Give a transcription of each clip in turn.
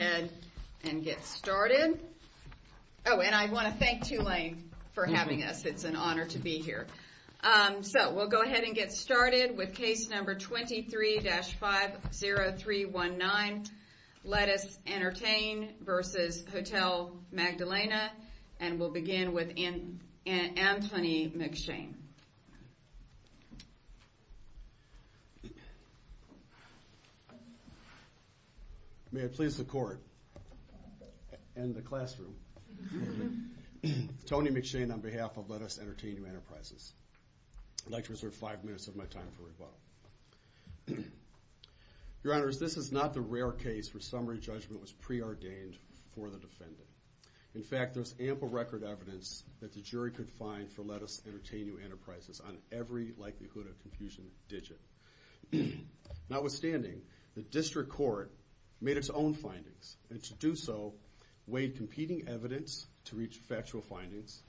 and get started. Oh, and I want to thank Tulane for having us. It's an honor to be here. Um, so we'll go ahead and get started with case number 23-50319 Lettuce Entertain versus Hotel Magdalena and the classroom. Tony McShane on behalf of Lettuce Entertain You Enterprises. I'd like to reserve five minutes of my time for rebuttal. Your honors, this is not the rare case where summary judgment was preordained for the defendant. In fact, there's ample record evidence that the jury could find for Lettuce Entertain You Enterprises on every likelihood of confusion digit. Notwithstanding, the district court made its own findings and to do so, weighed competing evidence to reach factual findings,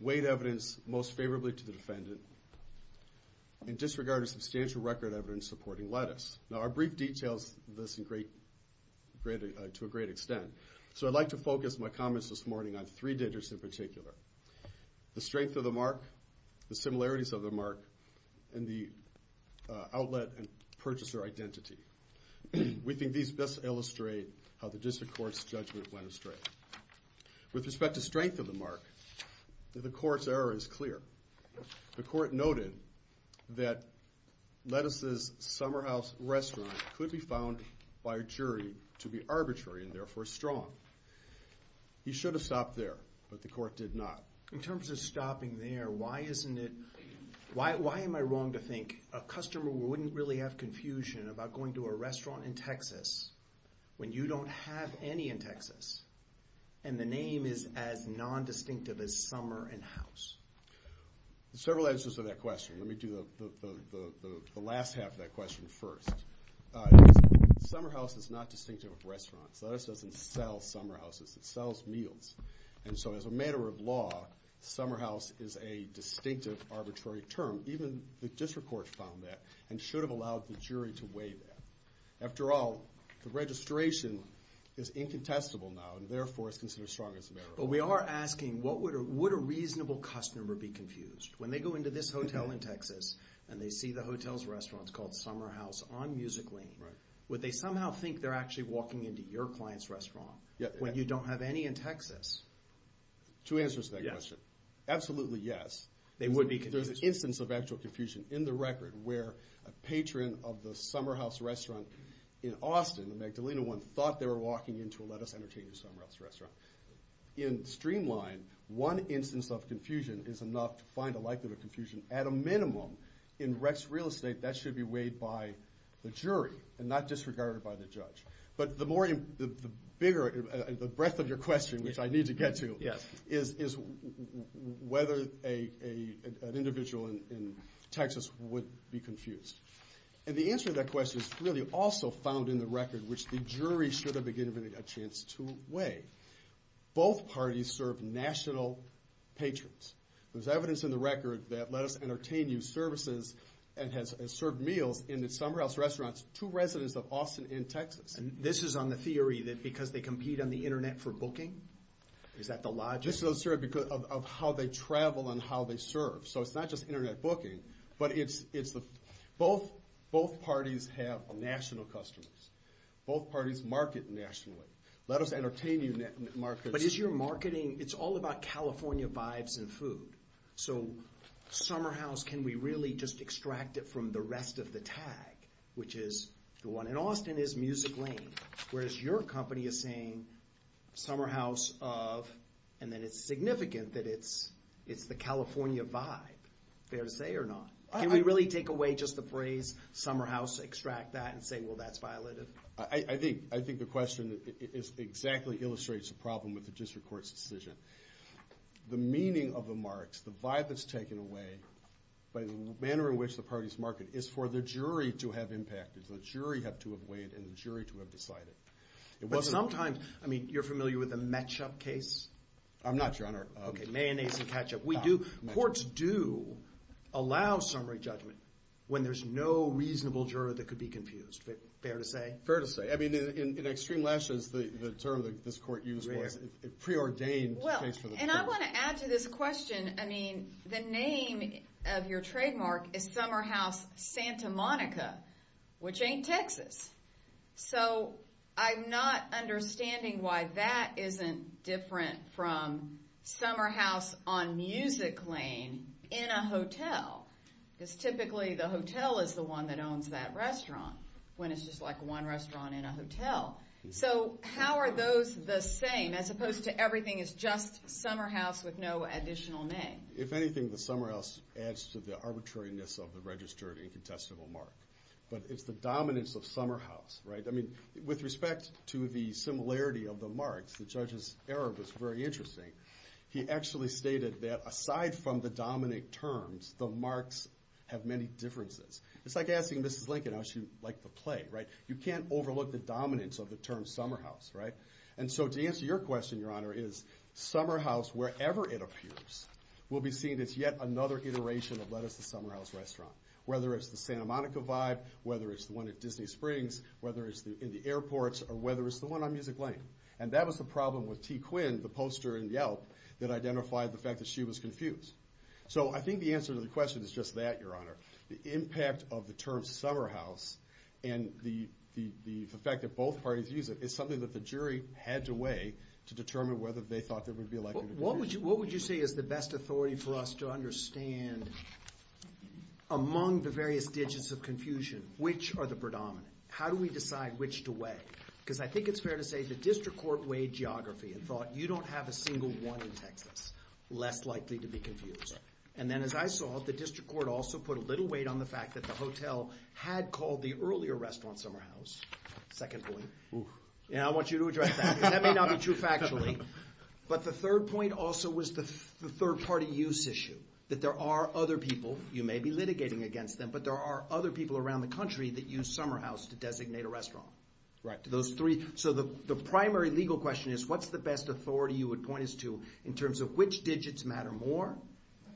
weighed evidence most favorably to the defendant, and disregarded substantial record evidence supporting Lettuce. Now, our brief details this to a great extent, so I'd like to focus my comments this morning on three digits in particular. The strength of the mark, the similarities of the mark, and the outlet and purchaser identity. We think these best illustrate how the district court's judgment went astray. With respect to strength of the mark, the court's error is clear. The court noted that Lettuce's Summer House restaurant could be found by a jury to be arbitrary and therefore strong. You should have stopped there, but the court did not. In terms of stopping there, why am I wrong to think a customer wouldn't really have confusion about going to a restaurant in Texas when you don't have any in Texas and the name is as nondistinctive as Summer and House? Several answers to that question. Let me do the last half of that question first. Summer House is not distinctive of restaurants. Lettuce doesn't sell Summer Houses. It sells meals. And so as a matter of law, Summer House is a distinctive arbitrary term. Even the district court found that and should have allowed the jury to weigh that. After all, the registration is incontestable now and therefore is considered strong as a matter of law. But we are asking, would a reasonable customer be confused? When they go into this hotel in Texas and they see the hotel's restaurant's called Summer House on Music Lane, would they somehow think they're actually walking into your client's restaurant when you don't have any in Texas? Two answers to that question. Absolutely yes. There's an instance of actual confusion in the record where a patron of the Summer House restaurant in Austin, the Magdalena one, thought they were walking into a Lettuce Entertainment Summer House restaurant. In Streamline, one instance of confusion is enough to find a likelihood of confusion. At a minimum, in Rex Real Estate, that should be weighed by the jury and not disregarded by the judge. But the breadth of your question, which I need to get to, is whether an individual in Texas would be confused. And the answer to that question is really also found in the record, which the jury should have been given a chance to weigh. Both parties serve national patrons. There's evidence in the record that Lettuce Entertainment Services has served meals in the Summer House restaurant to residents of Austin and Texas. And this is on the theory that because they compete on the internet for booking? Is that the logic? This is on the theory of how they travel and how they serve. So it's not just internet booking, but both parties have national customers. Both parties market nationally. Lettuce Entertainment markets... But is your marketing... It's all about California vibes and food. So Summer House, can we really just extract it from the rest of the tag, which is the one... And Austin is music lane, whereas your company is saying Summer House of... And then it's significant that it's the California vibe. Fair to say or not? Can we really take away just the phrase Summer House, extract that and say, well, that's violative? I think the question exactly illustrates the problem with the district court's decision. The meaning of the marks, the vibe that's taken away by the manner in which the parties market is for the jury to have impact. It's the jury to have weighed and the jury to have decided. But sometimes, I mean, you're familiar with the matchup case? I'm not, Your Honor. Mayonnaise and ketchup. Courts do allow summary judgment when there's no reasonable juror that could be confused. Fair to say? Fair to say. I mean, in extreme last years, the term that this court used was preordained. Well, and I want to add to this question. I mean, the name of your trademark is Summer House Santa Monica, which ain't Texas. So I'm not understanding why that isn't different from Summer House on music lane in a hotel. Because typically, the hotel is the one that owns that restaurant, when it's just like one restaurant in a hotel. So how are those the same, as opposed to everything is just Summer House with no additional name? If anything, the Summer House adds to the arbitrariness of the registered incontestable mark. But it's the dominance of Summer House, right? I mean, with respect to the similarity of the marks, the judge's error was very interesting. He actually stated that aside from the dominant terms, the marks have many differences. It's like asking Mrs. Lincoln how she liked the play, right? You can't overlook the dominance of the term Summer House, right? And so to answer your question, Your Honor, is Summer House, wherever it appears, will be seen as yet another iteration of what is the Summer House restaurant. Whether it's the Santa Monica vibe, whether it's the one at Disney Springs, whether it's in the airports, or whether it's the one on music lane. And that was the problem with T. Quinn, the poster in Yelp, that identified the fact that she was confused. So I think the answer to the question is just that, Your Honor. The impact of the term Summer House, and the fact that both parties use it, is something that the jury had to weigh to determine whether they thought there would be a likelihood of confusion. What would you say is the best authority for us to understand, among the various digits of confusion, which are the predominant? How do we decide which to weigh? Because I think it's fair to say the district court weighed geography and thought, you don't have a single one in Texas less likely to be confused. And then as I saw, the district court also put a little weight on the fact that the hotel had called the earlier restaurant Summer House, second point. And I want you to address that, because that may not be true factually. But the third point also was the third party use issue. That there are other people, you may be litigating against them, but there are other people around the country that use Summer House to designate a restaurant. So the primary legal question is, what's the best authority you would point us to in terms of which digits matter more?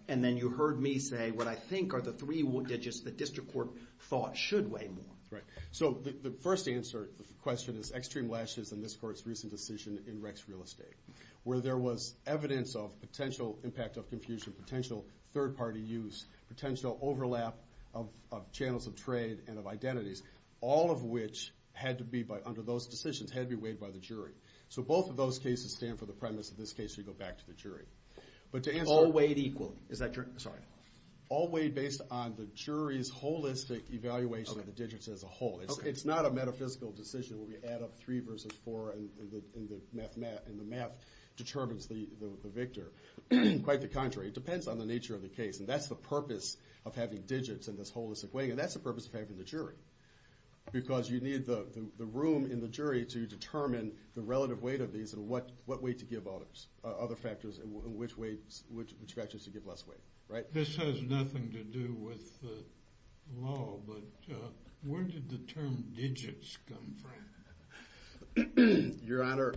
And then you heard me say, what I think are the three digits that district court thought should weigh more. Right. So the first answer to the question is extreme lashes in this court's recent decision in Rex Real Estate, where there was evidence of potential impact of confusion, potential third party use, potential overlap of channels of trade and of identities, all of which had to be, under those decisions, had to be weighed by the jury. So both of those cases stand for the premise of this case, so you go back to the jury. All weighed equally, is that correct? Sorry. All weighed based on the jury's holistic evaluation of the digits as a whole. It's not a metaphysical decision where we add up three versus four and the math determines the victor. Quite the contrary. It depends on the nature of the case. And that's the purpose of having digits in this holistic way, and that's the purpose of having the jury. Because you need the room in the jury to determine the relative weight of these and what weight to give other factors and which factors to give less weight. Right? This has nothing to do with the law, but where did the term digits come from? Your Honor,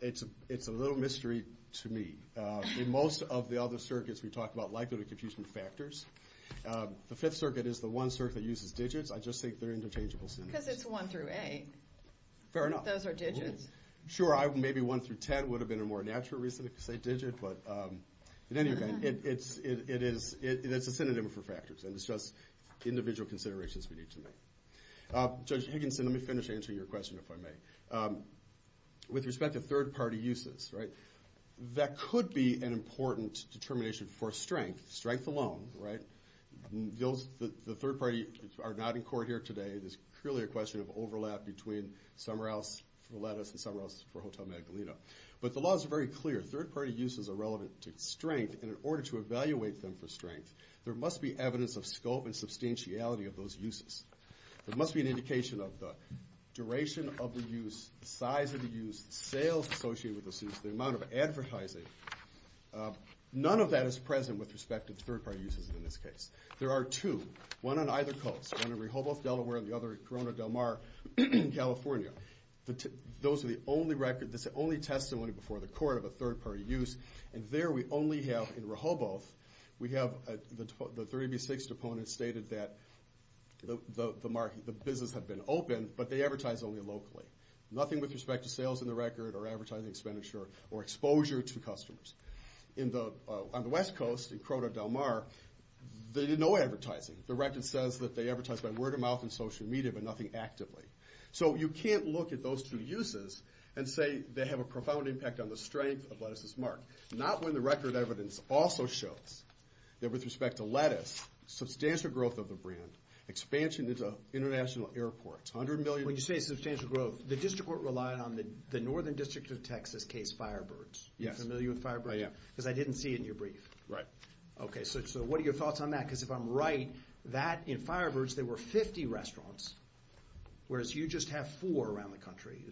it's a little mystery to me. In most of the other circuits we talk about likelihood of confusion factors. The Fifth Circuit is the one circuit that uses digits. I just think they're interchangeable symbols. Because it's one through eight. Fair enough. Those are digits. Sure, maybe one through 10 would have been a more natural reason to say digit, but in any event, it's a synonym for factors, and it's just individual considerations we need to make. Judge Higginson, let me finish answering your question, if I may. With respect to third-party uses, that could be an important determination for strength. Strength alone, right? The third party are not in court here today. There's clearly a question of overlap between somewhere else for lettuce and somewhere else for Hotel Magdalena. But the law is very clear. Third-party uses are relevant to strength, and in order to evaluate them for strength, there must be evidence of scope and substantiality of those uses. There must be an indication of the duration of the use, the size of the use, the sales associated with the use, the amount of advertising. None of that is present with respect to third-party uses in this case. There are two, one on either coast, one in Rehoboth, Delaware, and the other in Corona del Mar, California. Those are the only record, the only testimony before the court of a third-party use. And there we only have, in Rehoboth, we have the 30B6 deponent stated that the business had been open, but they advertise only locally. Nothing with respect to sales in the record or advertising expenditure or exposure to customers. On the west coast, in Corona del Mar, they did no advertising. The record says that they advertise by word of mouth and social media, but nothing actively. So you can't look at those two uses and say they have a profound impact on the strength of Lettuce's Mark. Not when the record evidence also shows that with respect to lettuce, substantial growth of the brand, expansion into international airports, 100 million. When you say substantial growth, the district court relied on the northern district of Texas case Firebirds. Yes. Are you familiar with Firebirds? I am. Because I didn't see it in your brief. Right. Okay. So what are your thoughts on that? Because if I'm right, that in Firebirds, there were 50 restaurants, whereas you just have four around the country.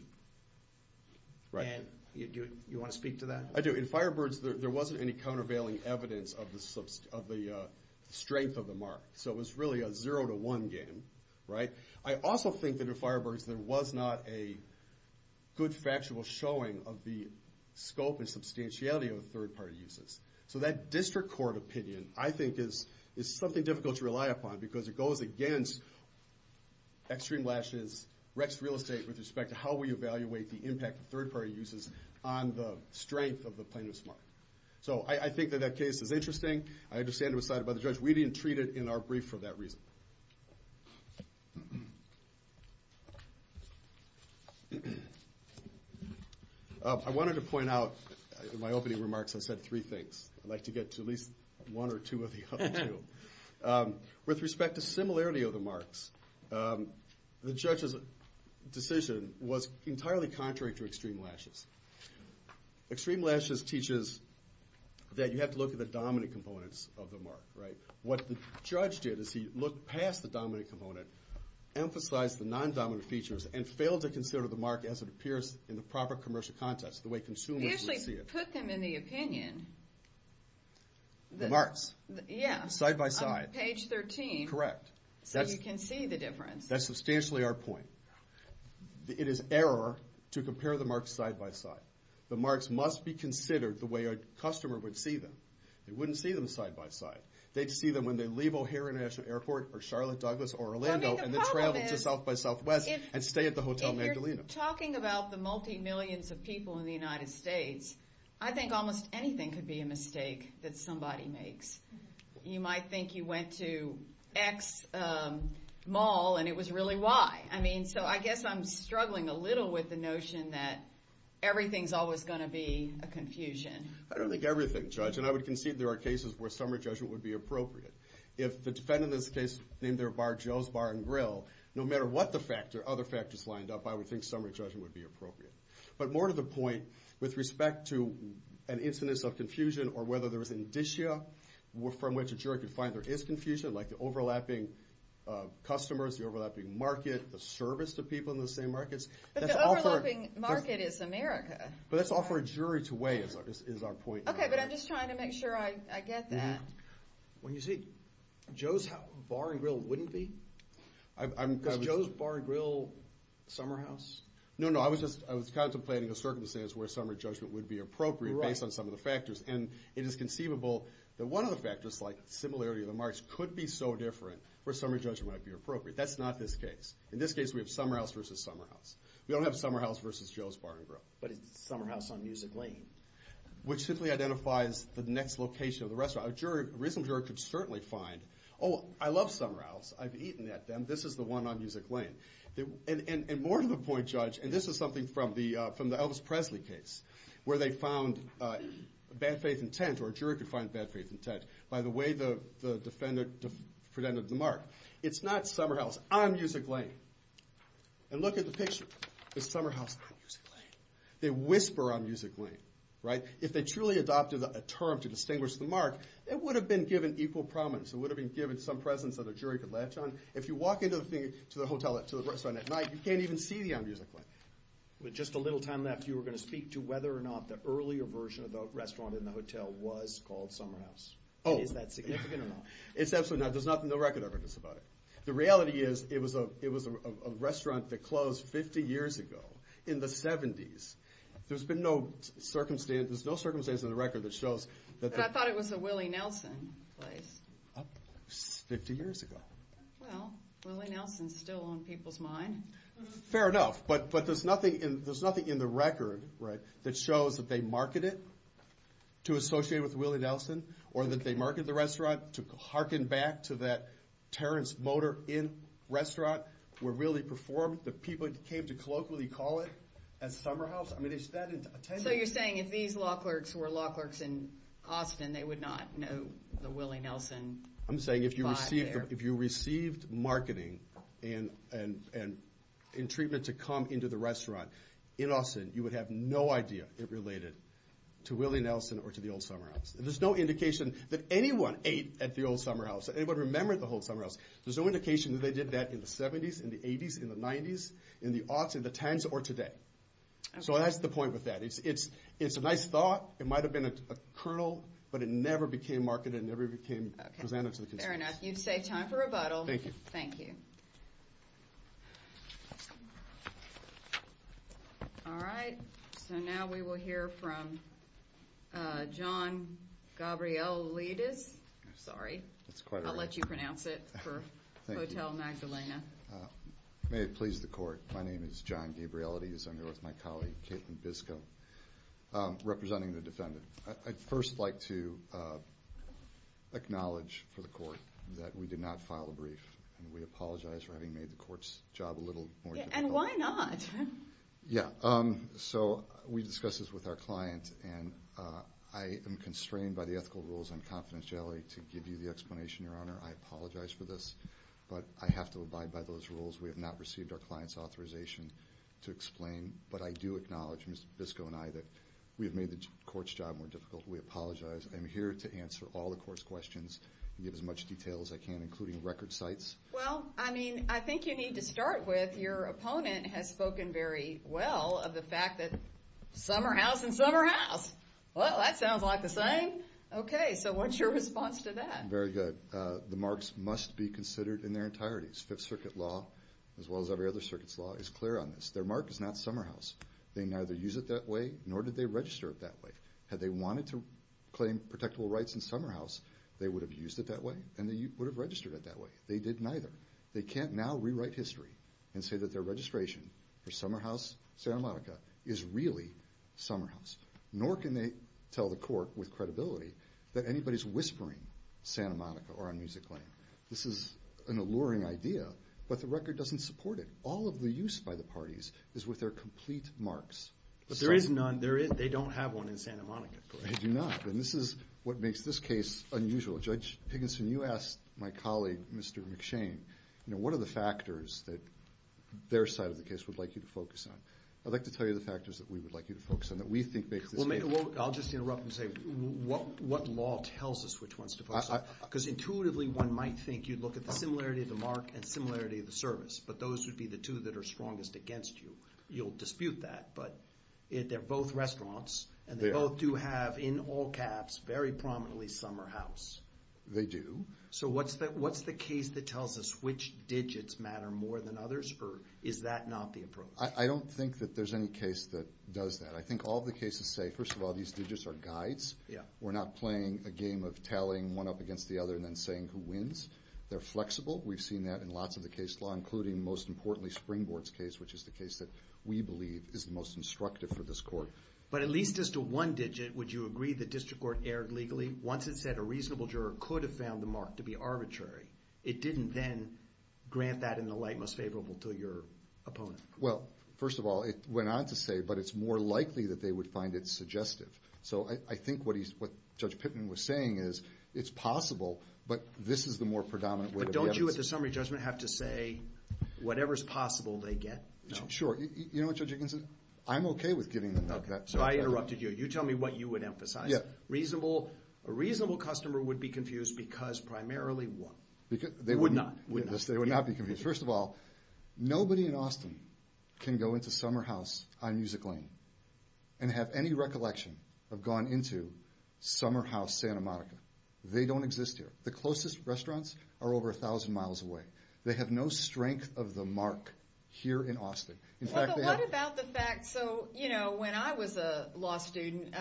Right. And you want to speak to that? I do. In Firebirds, there wasn't any countervailing evidence of the strength of the Mark. So it was really a zero to one game, right? I also think that in Firebirds, there was not a good factual showing of the scope and substantiality of the third-party uses. So that district court opinion, I think, is something difficult to rely upon because it goes against Extreme Lashes, Rex Real Estate, with respect to how we evaluate the impact of third-party uses on the strength of the plaintiff's Mark. So I think that that case is interesting. I understand it was cited by the judge. We didn't treat it in our brief for that reason. I wanted to point out in my opening remarks I said three things. I'd like to get to at least one or two of the other two. With respect to similarity of the Marks, the judge's decision was entirely contrary to Extreme Lashes. Extreme Lashes teaches that you have to look at the dominant components of the Mark, right? What the judge did is he looked past the dominant component, emphasized the non-dominant features, and failed to consider the Mark as it appears in the proper commercial context, the way consumers would see it. He actually put them in the opinion. The Marks. Yeah. Side by side. On page 13. Correct. So you can see the difference. That's substantially our point. It is error to compare the Marks side by side. The Marks must be considered the way a customer would see them. They wouldn't see them side by side. They'd see them when they leave O'Hare International Airport or Charlotte, Douglas, or Orlando and then travel to South by Southwest and stay at the Hotel Mandolina. If you're talking about the multi-millions of people in the United States, I think almost anything could be a mistake that somebody makes. You might think you went to X mall and it was really Y. I mean, so I guess I'm struggling a little with the notion that everything's always going to be a confusion. I don't think everything, Judge. And I would concede there are cases where summary judgment would be appropriate. If the defendant in this case named their bar Joe's Bar and Grill, no matter what other factors lined up, I would think summary judgment would be appropriate. But more to the point, with respect to an incidence of confusion or whether there was an indicia from which a jury could find there is confusion, like the overlapping customers, the overlapping market, the service to people in the same markets. But the overlapping market is America. But that's all for a jury to weigh is our point. Okay. But I'm just trying to make sure I get that. When you say Joe's Bar and Grill wouldn't be? Is Joe's Bar and Grill Summer House? No, no. I was contemplating a circumstance where summary judgment would be appropriate based on some of the factors. And it is conceivable that one of the factors, like similarity of the markets, could be so different where summary judgment might be appropriate. That's not this case. In this case, we have Summer House versus Summer House. We don't have Summer House versus Joe's Bar and Grill. But it's Summer House on Music Lane. Which simply identifies the next location of the restaurant. A reasonable juror could certainly find, oh, I love Summer House. I've eaten at them. This is the one on Music Lane. And more to the point, Judge, and this is something from the Elvis Presley case where they found bad faith intent or a juror could find bad faith intent by the way the defendant presented the mark. It's not Summer House on Music Lane. It's Summer House on Music Lane. They whisper on Music Lane. If they truly adopted a term to distinguish the mark, it would have been given equal prominence. It would have been given some presence that a jury could latch on. If you walk into the restaurant at night, you can't even see the on Music Lane. With just a little time left, you were going to speak to whether or not the earlier version of the restaurant in the hotel was called Summer House. Oh. Is that significant or not? It's absolutely not. There's nothing in the record evidence about it. The reality is it was a restaurant that closed 50 years ago in the 70s. There's no circumstance in the record that shows that the- But I thought it was a Willie Nelson place. 50 years ago. Well, Willie Nelson's still on people's mind. Fair enough. But there's nothing in the record that shows that they marketed it to associate with Willie Nelson, or that they marketed the restaurant to harken back to that Terrence Motor Inn restaurant, where people came to colloquially call it a Summer House. I mean, is that intended? So you're saying if these law clerks were law clerks in Austin, they would not know the Willie Nelson vibe there? I'm saying if you received marketing and treatment to come into the restaurant in Austin, you would have no idea it related to Willie Nelson or to the old Summer House. There's no indication that anyone ate at the old Summer House, anybody remembered the old Summer House. There's no indication that they did that in the 70s, in the 80s, in the 90s, in the aughts, in the tens, or today. So that's the point with that. It's a nice thought. It might have been a kernel, but it never became marketed. It never became presented to the consumers. Fair enough. You've saved time for rebuttal. Thank you. Thank you. All right. So now we will hear from John Gabrielides. I'm sorry. That's quite all right. I'll let you pronounce it for Hotel Magdalena. May it please the court. My name is John Gabrielides. I'm here with my colleague, Caitlin Biscoe, representing the defendant. I'd first like to acknowledge for the court that we did not file a brief, and we apologize for having made the court's job a little more difficult. And why not? Yeah. So we discussed this with our client, and I am constrained by the ethical rules and confidentiality to give you the explanation, Your Honor. I apologize for this, but I have to abide by those rules. We have not received our client's authorization to explain, but I do acknowledge, Mr. Biscoe and I, that we have made the court's job more difficult. We apologize. I'm here to answer all the court's questions and give as much detail as I can, including record sites. Well, I mean, I think you need to start with your opponent has spoken very well of the fact that summer house and summer house. Well, that sounds like the same. Okay. So what's your response to that? Very good. The marks must be considered in their entirety. Fifth Circuit law, as well as every other circuit's law, is clear on this. Their mark is not summer house. They neither use it that way, nor did they register it that way. Had they wanted to claim protectable rights in summer house, they would have used it that way, and they would have registered it that way. They did neither. They can't now rewrite history and say that their registration for summer house Santa Monica is really summer house. Nor can they tell the court with credibility that anybody's whispering Santa Monica or on music lane. This is an alluring idea, but the record doesn't support it. All of the use by the parties is with their complete marks. But there is none. They don't have one in Santa Monica. They do not, and this is what makes this case unusual. Judge Higginson, you asked my colleague, Mr. McShane, you know, what are the factors that their side of the case would like you to focus on? I'd like to tell you the factors that we would like you to focus on that we think make this case. Well, I'll just interrupt and say, what law tells us which ones to focus on? Because intuitively one might think you'd look at the similarity of the mark and similarity of the service, but those would be the two that are strongest against you. You'll dispute that, but they're both restaurants, and they both do have in all caps very prominently summer house. They do. So what's the case that tells us which digits matter more than others, or is that not the approach? I don't think that there's any case that does that. I think all the cases say, first of all, these digits are guides. We're not playing a game of tallying one up against the other and then saying who wins. They're flexible. We've seen that in lots of the case law, including, most importantly, Springboard's case, which is the case that we believe is the most instructive for this court. But at least as to one digit, would you agree the district court erred legally? Once it said a reasonable juror could have found the mark to be arbitrary, it didn't then grant that in the light most favorable to your opponent. Well, first of all, it went on to say, but it's more likely that they would find it suggestive. So I think what Judge Pittman was saying is it's possible, but this is the more predominant way to get it. But don't you, at the summary judgment, have to say whatever's possible they get? Sure. You know what, Judge Atkinson? I'm okay with giving them that. Okay. So I interrupted you. You tell me what you would emphasize. Yeah. A reasonable customer would be confused because primarily what? They wouldn't. Would not. They would not be confused. First of all, nobody in Austin can go into Summer House on Music Lane and have any recollection of going into Summer House Santa Monica. They don't exist here. The closest restaurants are over 1,000 miles away. They have no strength of the mark here in Austin. Well, but what about the fact, so, you know, when I was a law student,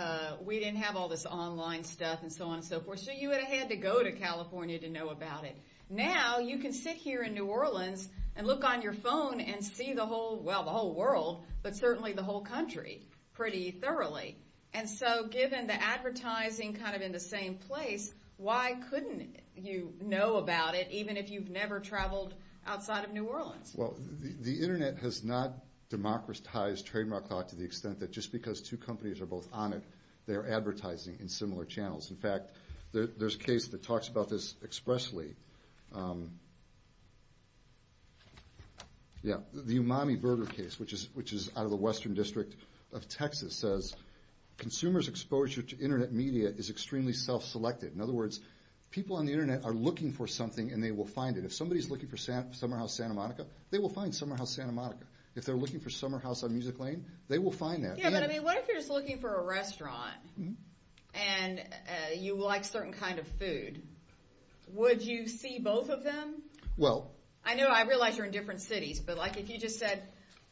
we didn't have all this online stuff and so on and so forth. So you would have had to go to California to know about it. Now you can sit here in New Orleans and look on your phone and see the whole, well, the whole world, but certainly the whole country pretty thoroughly. And so given the advertising kind of in the same place, why couldn't you know about it even if you've never traveled outside of New Orleans? Well, the Internet has not democratized trademark law to the extent that just because two companies are both on it, they're advertising in similar channels. In fact, there's a case that talks about this expressly. Yeah, the Umami Burger case, which is out of the Western District of Texas, says consumers' exposure to Internet media is extremely self-selected. In other words, people on the Internet are looking for something and they will find it. If somebody's looking for Summer House Santa Monica, they will find Summer House Santa Monica. If they're looking for Summer House on Music Lane, they will find that. Yeah, but I mean, what if you're just looking for a restaurant and you like certain kind of food? Would you see both of them? Well. I know I realize you're in different cities, but like if you just said,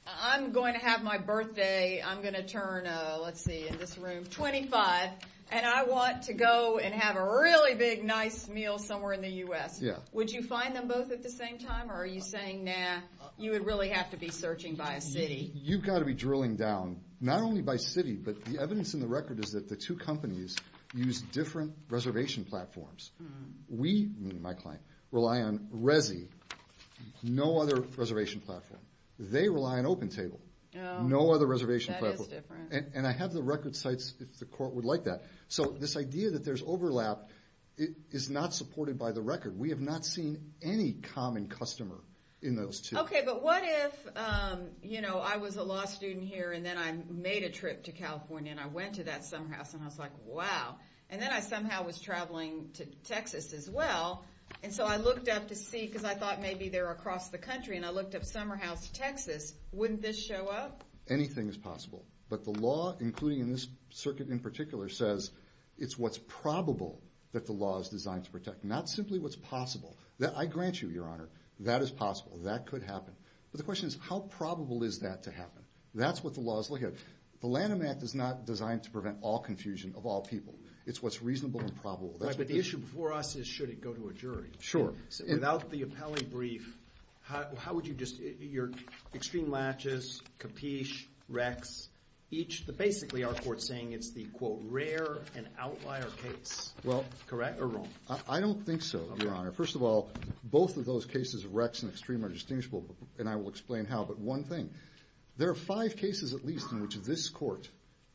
I'm going to have my birthday, I'm going to turn, let's see, in this room, 25, and I want to go and have a really big, nice meal somewhere in the U.S. Yeah. Would you find them both at the same time or are you saying, nah, you would really have to be searching by a city? You've got to be drilling down, not only by city, but the evidence in the record is that the two companies use different reservation platforms. We, me and my client, rely on Resy, no other reservation platform. They rely on OpenTable. No other reservation platform. That is different. And I have the record sites if the court would like that. So this idea that there's overlap is not supported by the record. We have not seen any common customer in those two. Okay. But what if, you know, I was a law student here and then I made a trip to California and I went to that summer house and I was like, wow. And then I somehow was traveling to Texas as well. And so I looked up to see because I thought maybe they're across the country and I looked up summer house Texas. Wouldn't this show up? Anything is possible. But the law, including in this circuit in particular, says it's what's probable that the law is designed to protect, not simply what's possible. I grant you, Your Honor, that is possible. That could happen. But the question is how probable is that to happen? That's what the law is looking at. The Lanham Act is not designed to prevent all confusion of all people. It's what's reasonable and probable. Right, but the issue before us is should it go to a jury. Sure. Without the appellee brief, how would you just, your extreme latches, capiche, recs, each, basically our court is saying it's the, quote, rare and outlier case. Well. Correct or wrong? I don't think so, Your Honor. First of all, both of those cases, recs and extreme, are distinguishable, and I will explain how, but one thing. There are five cases at least in which this court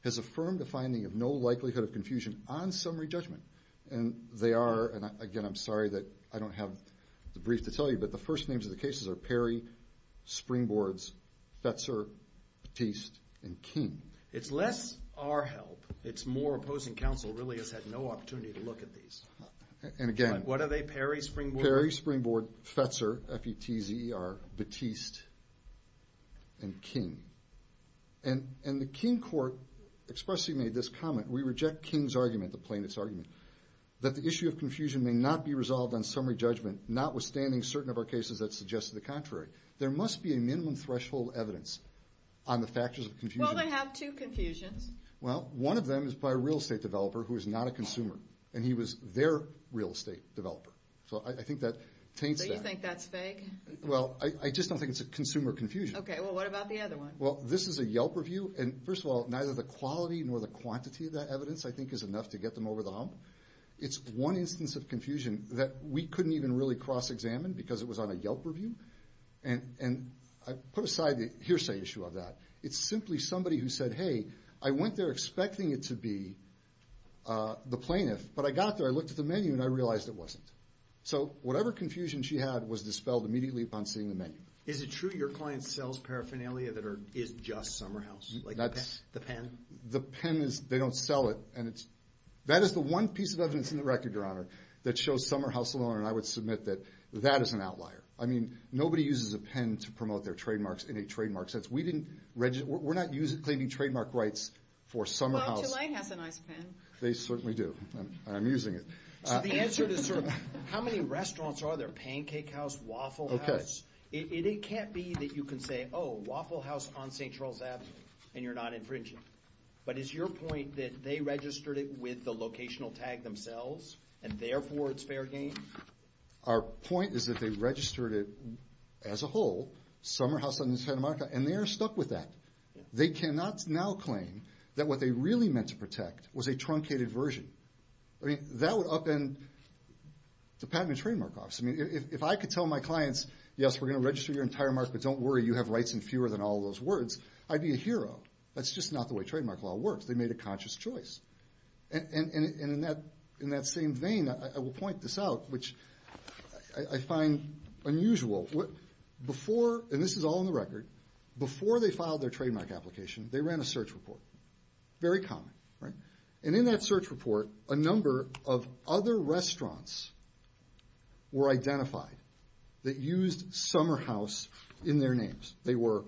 has affirmed a finding of no likelihood of confusion on summary judgment. And they are, and again, I'm sorry that I don't have the brief to tell you, but the first names of the cases are Perry, Springboards, Fetzer, Batiste, and King. It's less our help, it's more opposing counsel really has had no opportunity to look at these. And again. What are they, Perry, Springboard? Perry, Springboard, Fetzer, F-E-T-Z-E-R, Batiste, and King. And the King court expressly made this comment, we reject King's argument, the plaintiff's argument, that the issue of confusion may not be resolved on summary judgment, notwithstanding certain of our cases that suggested the contrary. There must be a minimum threshold evidence on the factors of confusion. Well, they have two confusions. Well, one of them is by a real estate developer who is not a consumer, and he was their real estate developer. So I think that taints that. So you think that's vague? Well, I just don't think it's a consumer confusion. Okay, well what about the other one? Well, this is a Yelp review, and first of all, neither the quality nor the quantity of that evidence I think is enough to get them over the hump. It's one instance of confusion that we couldn't even really cross-examine because it was on a Yelp review. And I put aside the hearsay issue of that. It's simply somebody who said, hey, I went there expecting it to be the plaintiff, but I got there, I looked at the menu, and I realized it wasn't. So whatever confusion she had was dispelled immediately upon seeing the menu. Is it true your client sells paraphernalia that is just Summerhouse? The pen? The pen is, they don't sell it, and that is the one piece of evidence in the record, Your Honor, that shows Summerhouse alone, and I would submit that that is an outlier. I mean, nobody uses a pen to promote their trademarks in a trademark sense. We didn't register, we're not claiming trademark rights for Summerhouse. Well, Tulane has a nice pen. They certainly do, and I'm using it. So the answer to sort of, how many restaurants are there, Pancake House, Waffle House? Okay. It can't be that you can say, oh, Waffle House on St. Charles Avenue, and you're not infringing. But is your point that they registered it with the locational tag themselves, and therefore it's fair game? Our point is that they registered it as a whole, Summerhouse on the entire market, and they are stuck with that. They cannot now claim that what they really meant to protect was a truncated version. I mean, that would upend the patent and trademark office. I mean, if I could tell my clients, yes, we're going to register your entire market, but don't worry, you have rights in fewer than all those words, I'd be a hero. That's just not the way trademark law works. They made a conscious choice. And in that same vein, I will point this out, which I find unusual. Before, and this is all on the record, before they filed their trademark application, they ran a search report. Very common, right? And in that search report, a number of other restaurants were identified that used Summerhouse in their names. They were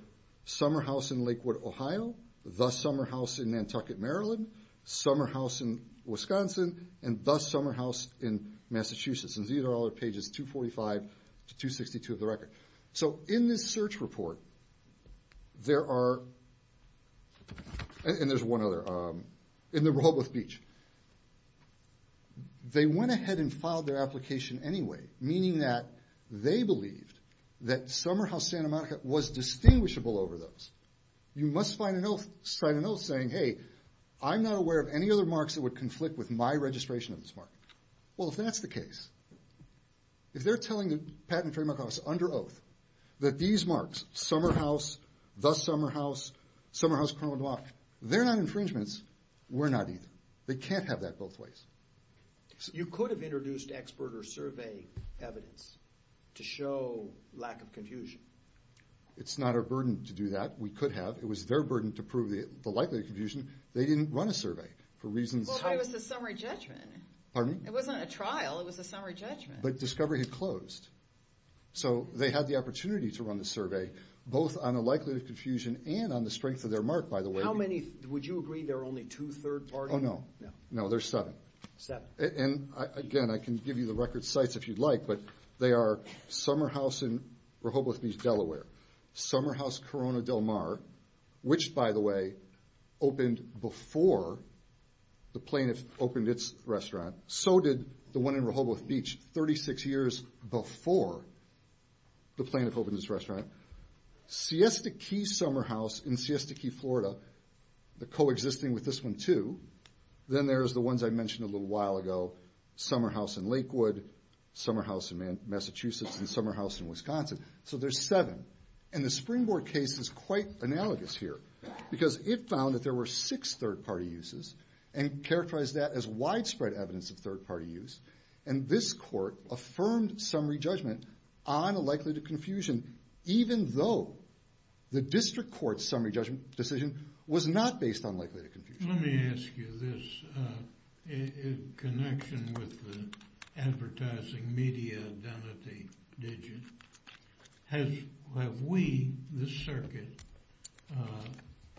Summerhouse in Lakewood, Ohio, The Summerhouse in Nantucket, Maryland, Summerhouse in Wisconsin, and The Summerhouse in Massachusetts. And these are all at pages 245 to 262 of the record. So in this search report, there are, and there's one other, in the Robles Beach, they went ahead and filed their application anyway, meaning that they believed that Summerhouse Santa Monica was distinguishable over those. You must find an oath saying, hey, I'm not aware of any other marks that would conflict with my registration of this mark. Well, if that's the case, if they're telling the Patent and Trademark Office under oath that these marks, Summerhouse, The Summerhouse, Summerhouse, they're not infringements, we're not either. They can't have that both ways. You could have introduced expert or survey evidence to show lack of confusion. It's not our burden to do that. We could have. It was their burden to prove the likelihood of confusion. They didn't run a survey for reasons how... Well, but it was the summary judgment. Pardon? It wasn't a trial. It was a summary judgment. But discovery had closed. So they had the opportunity to run the survey, both on the likelihood of confusion and on the strength of their mark, by the way. How many, would you agree there are only two third parties? Oh, no. No, there's seven. Seven. And, again, I can give you the record sites if you'd like, but they are Summerhouse in Rehoboth Beach, Delaware, Summerhouse Corona Del Mar, which, by the way, opened before the plaintiff opened its restaurant. So did the one in Rehoboth Beach 36 years before the plaintiff opened its restaurant. Siesta Key Summerhouse in Siesta Key, Florida, coexisting with this one, too. Then there's the ones I mentioned a little while ago. Summerhouse in Lakewood, Summerhouse in Massachusetts, and Summerhouse in Wisconsin. So there's seven. And the Springboard case is quite analogous here because it found that there were six third-party uses and characterized that as widespread evidence of third-party use. And this court affirmed summary judgment on a likelihood of confusion, even though the district court's summary judgment decision was not based on likelihood of confusion. Let me ask you this in connection with the advertising media identity digit. Have we, this circuit,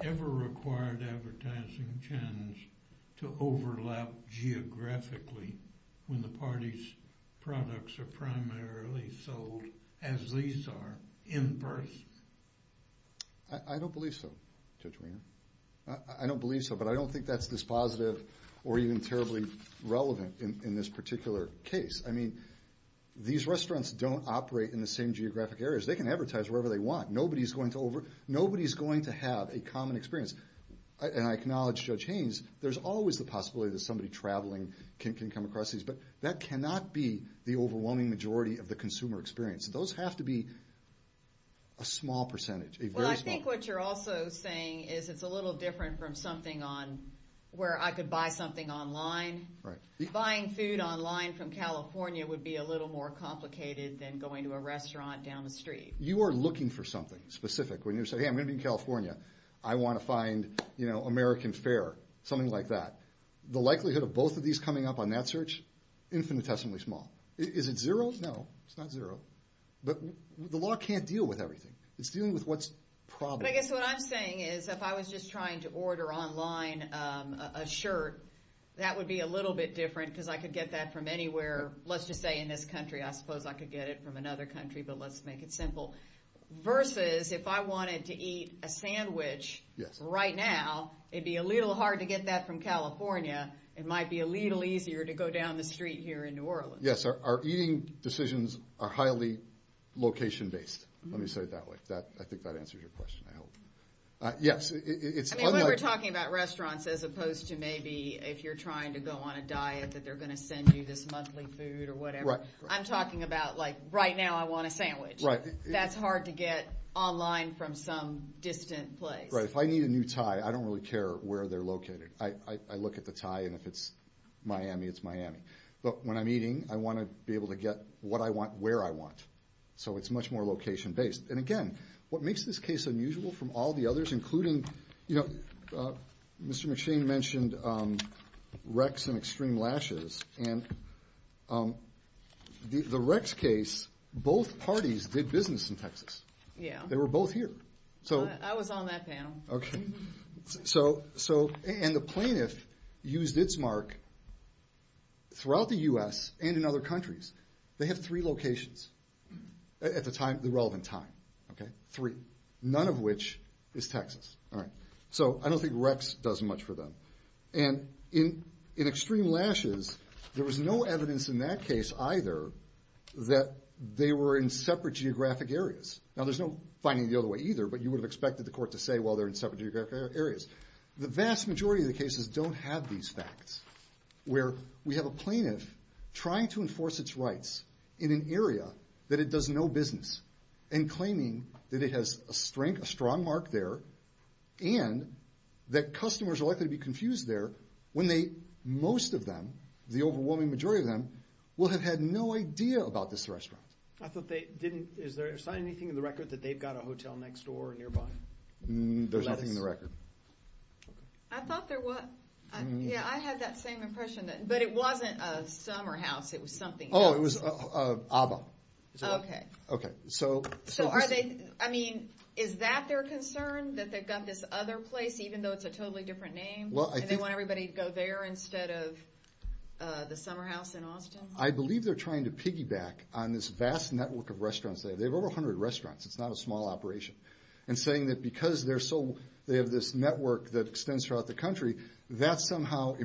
ever required advertising channels to overlap geographically when the party's products are primarily sold as these are in-person? I don't believe so, Judge Winger. I don't believe so, but I don't think that's dispositive or even terribly relevant in this particular case. I mean, these restaurants don't operate in the same geographic areas. They can advertise wherever they want. Nobody's going to have a common experience. And I acknowledge Judge Haynes. There's always the possibility that somebody traveling can come across these, but that cannot be the overwhelming majority of the consumer experience. Those have to be a small percentage, a very small percentage. Well, I think what you're also saying is it's a little different from something on where I could buy something online. Buying food online from California would be a little more complicated than going to a restaurant down the street. You are looking for something specific when you say, hey, I'm going to be in California. I want to find, you know, American fare, something like that. The likelihood of both of these coming up on that search, infinitesimally small. Is it zero? No, it's not zero. But the law can't deal with everything. It's dealing with what's probable. But I guess what I'm saying is if I was just trying to order online a shirt, that would be a little bit different because I could get that from anywhere. Let's just say in this country, I suppose I could get it from another country, but let's make it simple. Versus if I wanted to eat a sandwich right now, it'd be a little hard to get that from California. It might be a little easier to go down the street here in New Orleans. Yes, our eating decisions are highly location-based. Let me say it that way. I think that answers your question, I hope. Yes. I mean, when we're talking about restaurants as opposed to maybe if you're trying to go on a diet, that they're going to send you this monthly food or whatever. Right. I'm talking about like right now I want a sandwich. Right. That's hard to get online from some distant place. Right. If I need a new tie, I don't really care where they're located. I look at the tie, and if it's Miami, it's Miami. But when I'm eating, I want to be able to get what I want where I want. So it's much more location-based. And again, what makes this case unusual from all the others, including, you know, Mr. McShane mentioned Rex and Extreme Lashes. And the Rex case, both parties did business in Texas. Yes. They were both here. I was on that panel. Okay. And the plaintiff used its mark throughout the U.S. and in other countries. They have three locations at the time, the relevant time. Okay. Three. None of which is Texas. All right. So I don't think Rex does much for them. And in Extreme Lashes, there was no evidence in that case either that they were in separate geographic areas. Now, there's no finding the other way either, but you would have expected the court to say, well, they're in separate geographic areas. The vast majority of the cases don't have these facts, where we have a plaintiff trying to enforce its rights in an area that it does no business and claiming that it has a strong mark there and that customers are likely to be confused there when most of them, the overwhelming majority of them, will have had no idea about this restaurant. Is there anything in the record that they've got a hotel next door or nearby? There's nothing in the record. I thought there was. Yeah, I had that same impression. But it wasn't a summer house. It was something else. Oh, it was ABBA. Okay. Okay. So are they, I mean, is that their concern, that they've got this other place even though it's a totally different name and they want everybody to go there instead of the summer house in Austin? I believe they're trying to piggyback on this vast network of restaurants. They have over 100 restaurants. It's not a small operation. And saying that because they have this network that extends throughout the country, that somehow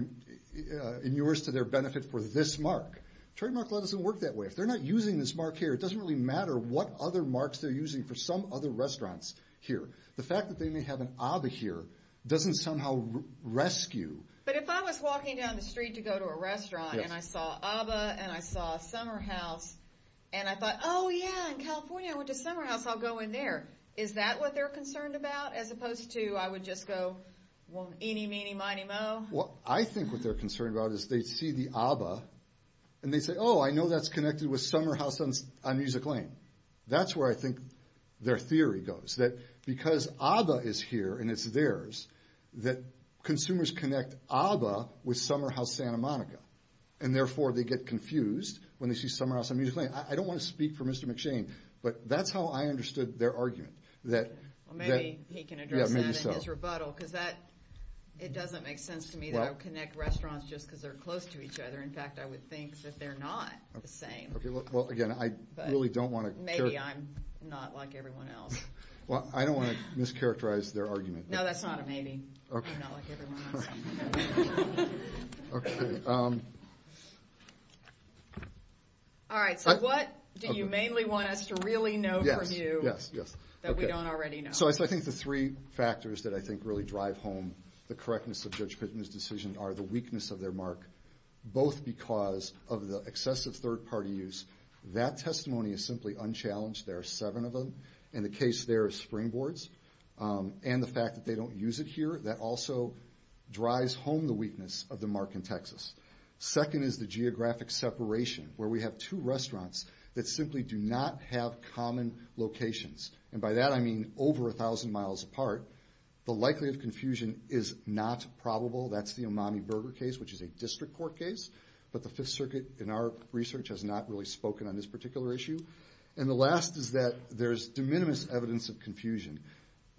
inures to their benefit for this mark. Trademark law doesn't work that way. If they're not using this mark here, it doesn't really matter what other marks they're using for some other restaurants here. The fact that they may have an ABBA here doesn't somehow rescue. But if I was walking down the street to go to a restaurant and I saw ABBA and I saw a summer house and I thought, oh, yeah, in California I went to a summer house, I'll go in there, is that what they're concerned about as opposed to I would just go eeny, meeny, miny, moe? I think what they're concerned about is they see the ABBA and they say, oh, I know that's connected with Summer House on Music Lane. That's where I think their theory goes, that because ABBA is here and it's theirs, that consumers connect ABBA with Summer House Santa Monica and therefore they get confused when they see Summer House on Music Lane. I don't want to speak for Mr. McShane, but that's how I understood their argument. Maybe he can address that in his rebuttal, because it doesn't make sense to me that I would connect restaurants just because they're close to each other. In fact, I would think that they're not the same. Well, again, I really don't want to... Maybe I'm not like everyone else. Well, I don't want to mischaracterize their argument. No, that's not a maybe. I'm not like everyone else. All right, so what do you mainly want us to really know from you that we don't already know? So I think the three factors that I think really drive home the correctness of Judge Pittman's decision are the weakness of their mark, both because of the excessive third-party use. That testimony is simply unchallenged. There are seven of them. In the case there of springboards and the fact that they don't use it here, that also drives home the weakness of the mark in Texas. Second is the geographic separation, where we have two restaurants that simply do not have common locations. And by that I mean over 1,000 miles apart. The likelihood of confusion is not probable. That's the Umami Burger case, which is a district court case. But the Fifth Circuit, in our research, has not really spoken on this particular issue. And the last is that there's de minimis evidence of confusion.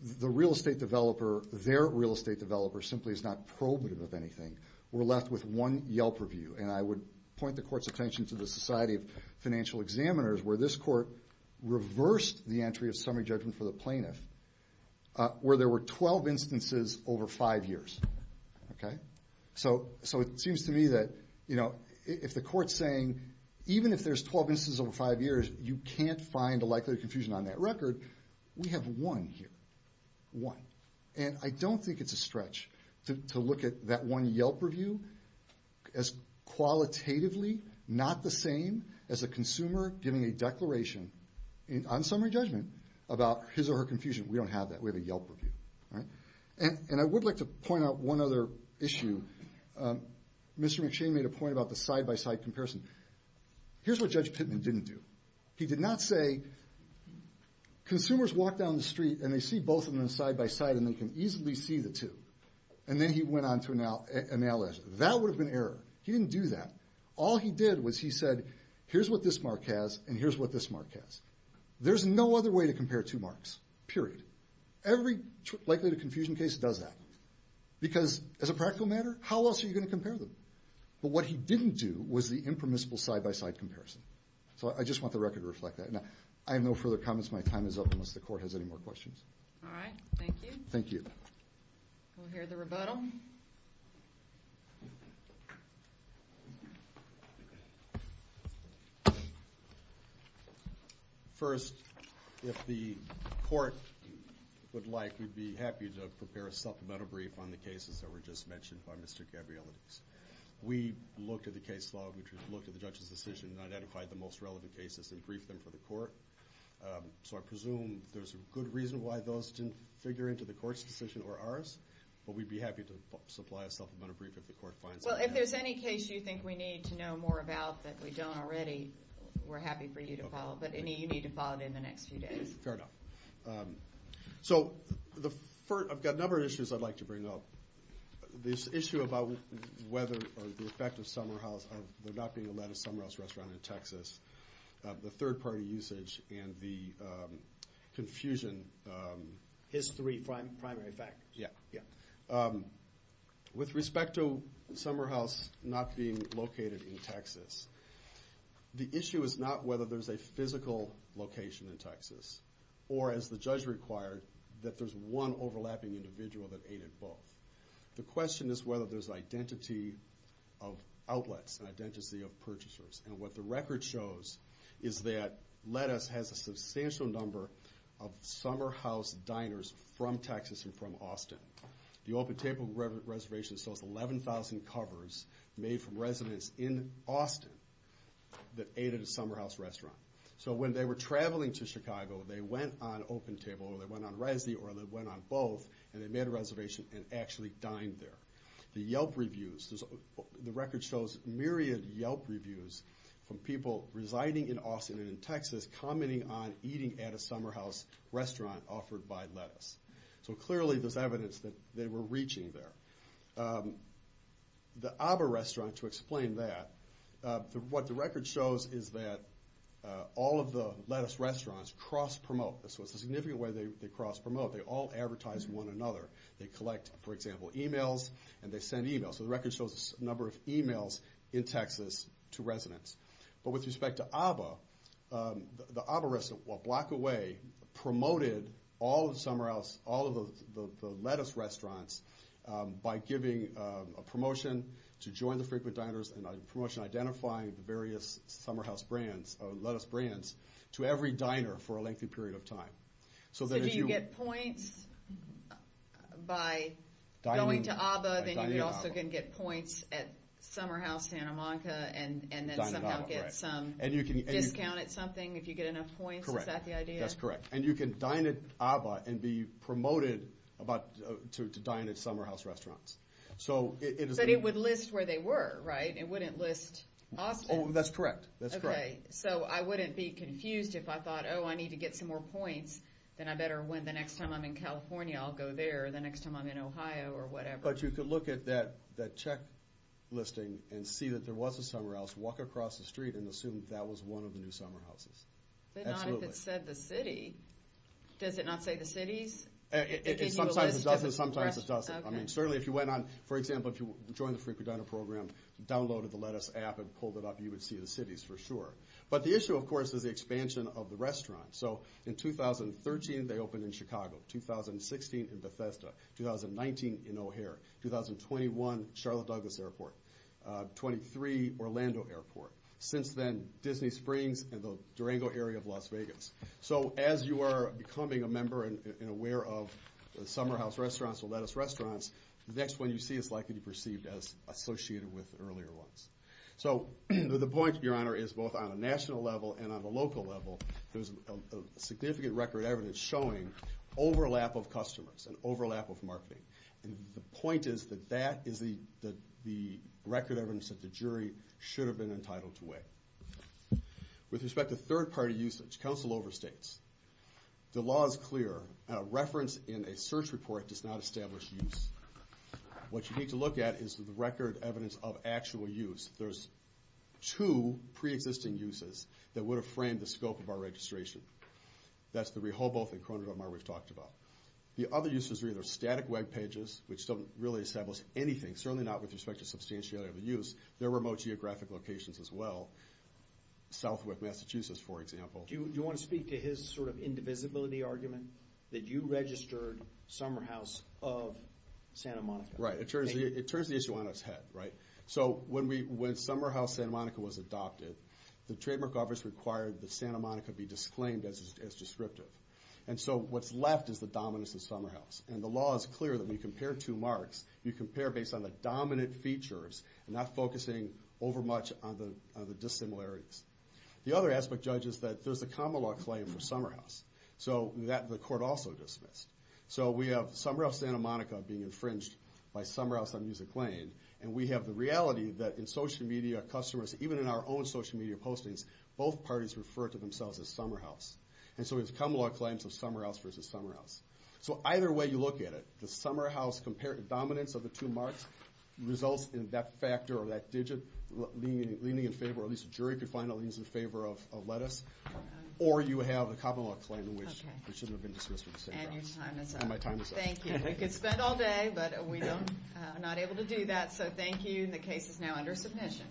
The real estate developer, their real estate developer, simply is not probative of anything. We're left with one Yelp review. And I would point the Court's attention to the Society of Financial Examiners, where this Court reversed the entry of summary judgment for the plaintiff, where there were 12 instances over five years. So it seems to me that if the Court's saying, even if there's 12 instances over five years, you can't find a likelihood of confusion on that record, we have one here, one. And I don't think it's a stretch to look at that one Yelp review as qualitatively, not the same as a consumer giving a declaration on summary judgment about his or her confusion. We don't have that. We have a Yelp review. And I would like to point out one other issue. Mr. McShane made a point about the side-by-side comparison. Here's what Judge Pittman didn't do. He did not say, consumers walk down the street and they see both of them side-by-side and they can easily see the two. And then he went on to analyze it. That would have been error. He didn't do that. All he did was he said, here's what this mark has and here's what this mark has. There's no other way to compare two marks, period. Every likelihood of confusion case does that. Because as a practical matter, how else are you going to compare them? But what he didn't do was the impermissible side-by-side comparison. So I just want the record to reflect that. I have no further comments. My time is up unless the Court has any more questions. All right, thank you. Thank you. We'll hear the rebuttal. First, if the Court would like, we'd be happy to prepare a supplemental brief on the cases that were just mentioned by Mr. Gabrielidis. We looked at the case log, we looked at the judge's decision, and identified the most relevant cases and briefed them for the Court. So I presume there's a good reason why those didn't figure into the Court's decision or ours, but we'd be happy to supply a supplemental brief if the Court finds it necessary. Well, if there's any case you think we need to know more about that we don't already, we're happy for you to follow. But you need to follow it in the next few days. Fair enough. So I've got a number of issues I'd like to bring up. This issue about whether or the effect of Summerhouse, of there not being a lettuce Summerhouse restaurant in Texas, the third-party usage, and the confusion... History, primary factors. Yeah, yeah. With respect to Summerhouse not being located in Texas, the issue is not whether there's a physical location in Texas, or, as the judge required, that there's one overlapping individual that ate at both. The question is whether there's an identity of outlets, an identity of purchasers. And what the record shows is that lettuce has a substantial number of Summerhouse diners from Texas and from Austin. The open table reservation shows 11,000 covers made from residents in Austin that ate at a Summerhouse restaurant. So when they were traveling to Chicago, they went on open table, or they went on resi, or they went on both, and they made a reservation and actually dined there. The Yelp reviews, the record shows myriad Yelp reviews from people residing in Austin and in Texas commenting on eating at a Summerhouse restaurant offered by lettuce. So clearly there's evidence that they were reaching there. The ABBA restaurant, to explain that, what the record shows is that all of the lettuce restaurants cross-promote. So it's a significant way they cross-promote. They collect, for example, e-mails, and they send e-mails. So the record shows the number of e-mails in Texas to residents. But with respect to ABBA, the ABBA restaurant a block away promoted all of the Summerhouse, all of the lettuce restaurants by giving a promotion to join the frequent diners and a promotion identifying the various Summerhouse lettuce brands to every diner for a lengthy period of time. So do you get points by going to ABBA? Then you also can get points at Summerhouse, Santa Monica, and then somehow get some discount at something if you get enough points? Is that the idea? That's correct. And you can dine at ABBA and be promoted to dine at Summerhouse restaurants. But it would list where they were, right? It wouldn't list Austin? Oh, that's correct. Okay, so I wouldn't be confused if I thought, oh, I need to get some more points, then I better win. The next time I'm in California, I'll go there. The next time I'm in Ohio or whatever. But you could look at that check listing and see that there was a Summerhouse, walk across the street, and assume that was one of the new Summerhouses. But not if it said the city. Does it not say the cities? Sometimes it does, and sometimes it doesn't. I mean, certainly if you went on, for example, if you joined the Free for Diner program, downloaded the lettuce app and pulled it up, you would see the cities for sure. But the issue, of course, is the expansion of the restaurant. So in 2013, they opened in Chicago. 2016 in Bethesda. 2019 in O'Hare. 2021 Charlotte Douglas Airport. 23 Orlando Airport. Since then, Disney Springs and the Durango area of Las Vegas. So as you are becoming a member and aware of Summerhouse restaurants or lettuce restaurants, the next one you see is likely to be perceived as associated with earlier ones. So the point, Your Honor, is both on a national level and on a local level, there's significant record evidence showing overlap of customers and overlap of marketing. And the point is that that is the record evidence that the jury should have been entitled to weigh. With respect to third-party usage, counsel overstates. The law is clear. A reference in a search report does not establish use. What you need to look at is the record evidence of actual use. There's two pre-existing uses that would have framed the scope of our registration. That's the Rehoboth and Corona Del Mar we've talked about. The other uses are either static web pages, which don't really establish anything, certainly not with respect to substantiality of the use. There are remote geographic locations as well. Southwest Massachusetts, for example. Do you want to speak to his sort of indivisibility argument that you registered Summerhouse of Santa Monica? Right. It turns the issue on its head, right? So when Summerhouse Santa Monica was adopted, the trademark office required that Santa Monica be disclaimed as descriptive. And so what's left is the dominance of Summerhouse. And the law is clear that when you compare two marks, you compare based on the dominant features, not focusing over much on the dissimilarities. The other aspect, Judge, is that there's a common law claim for Summerhouse, so that the court also dismissed. So we have Summerhouse Santa Monica being infringed by Summerhouse on Music Lane, and we have the reality that in social media customers, even in our own social media postings, both parties refer to themselves as Summerhouse. And so there's common law claims of Summerhouse versus Summerhouse. So either way you look at it, the Summerhouse compared to dominance of the two marks, results in that factor or that digit leaning in favor, or at least a jury could find it leans in favor of lettuce. Or you have the common law claim, which should have been dismissed with the same grounds. And your time is up. Thank you. We could spend all day, but we are not able to do that. So thank you, and the case is now under submission.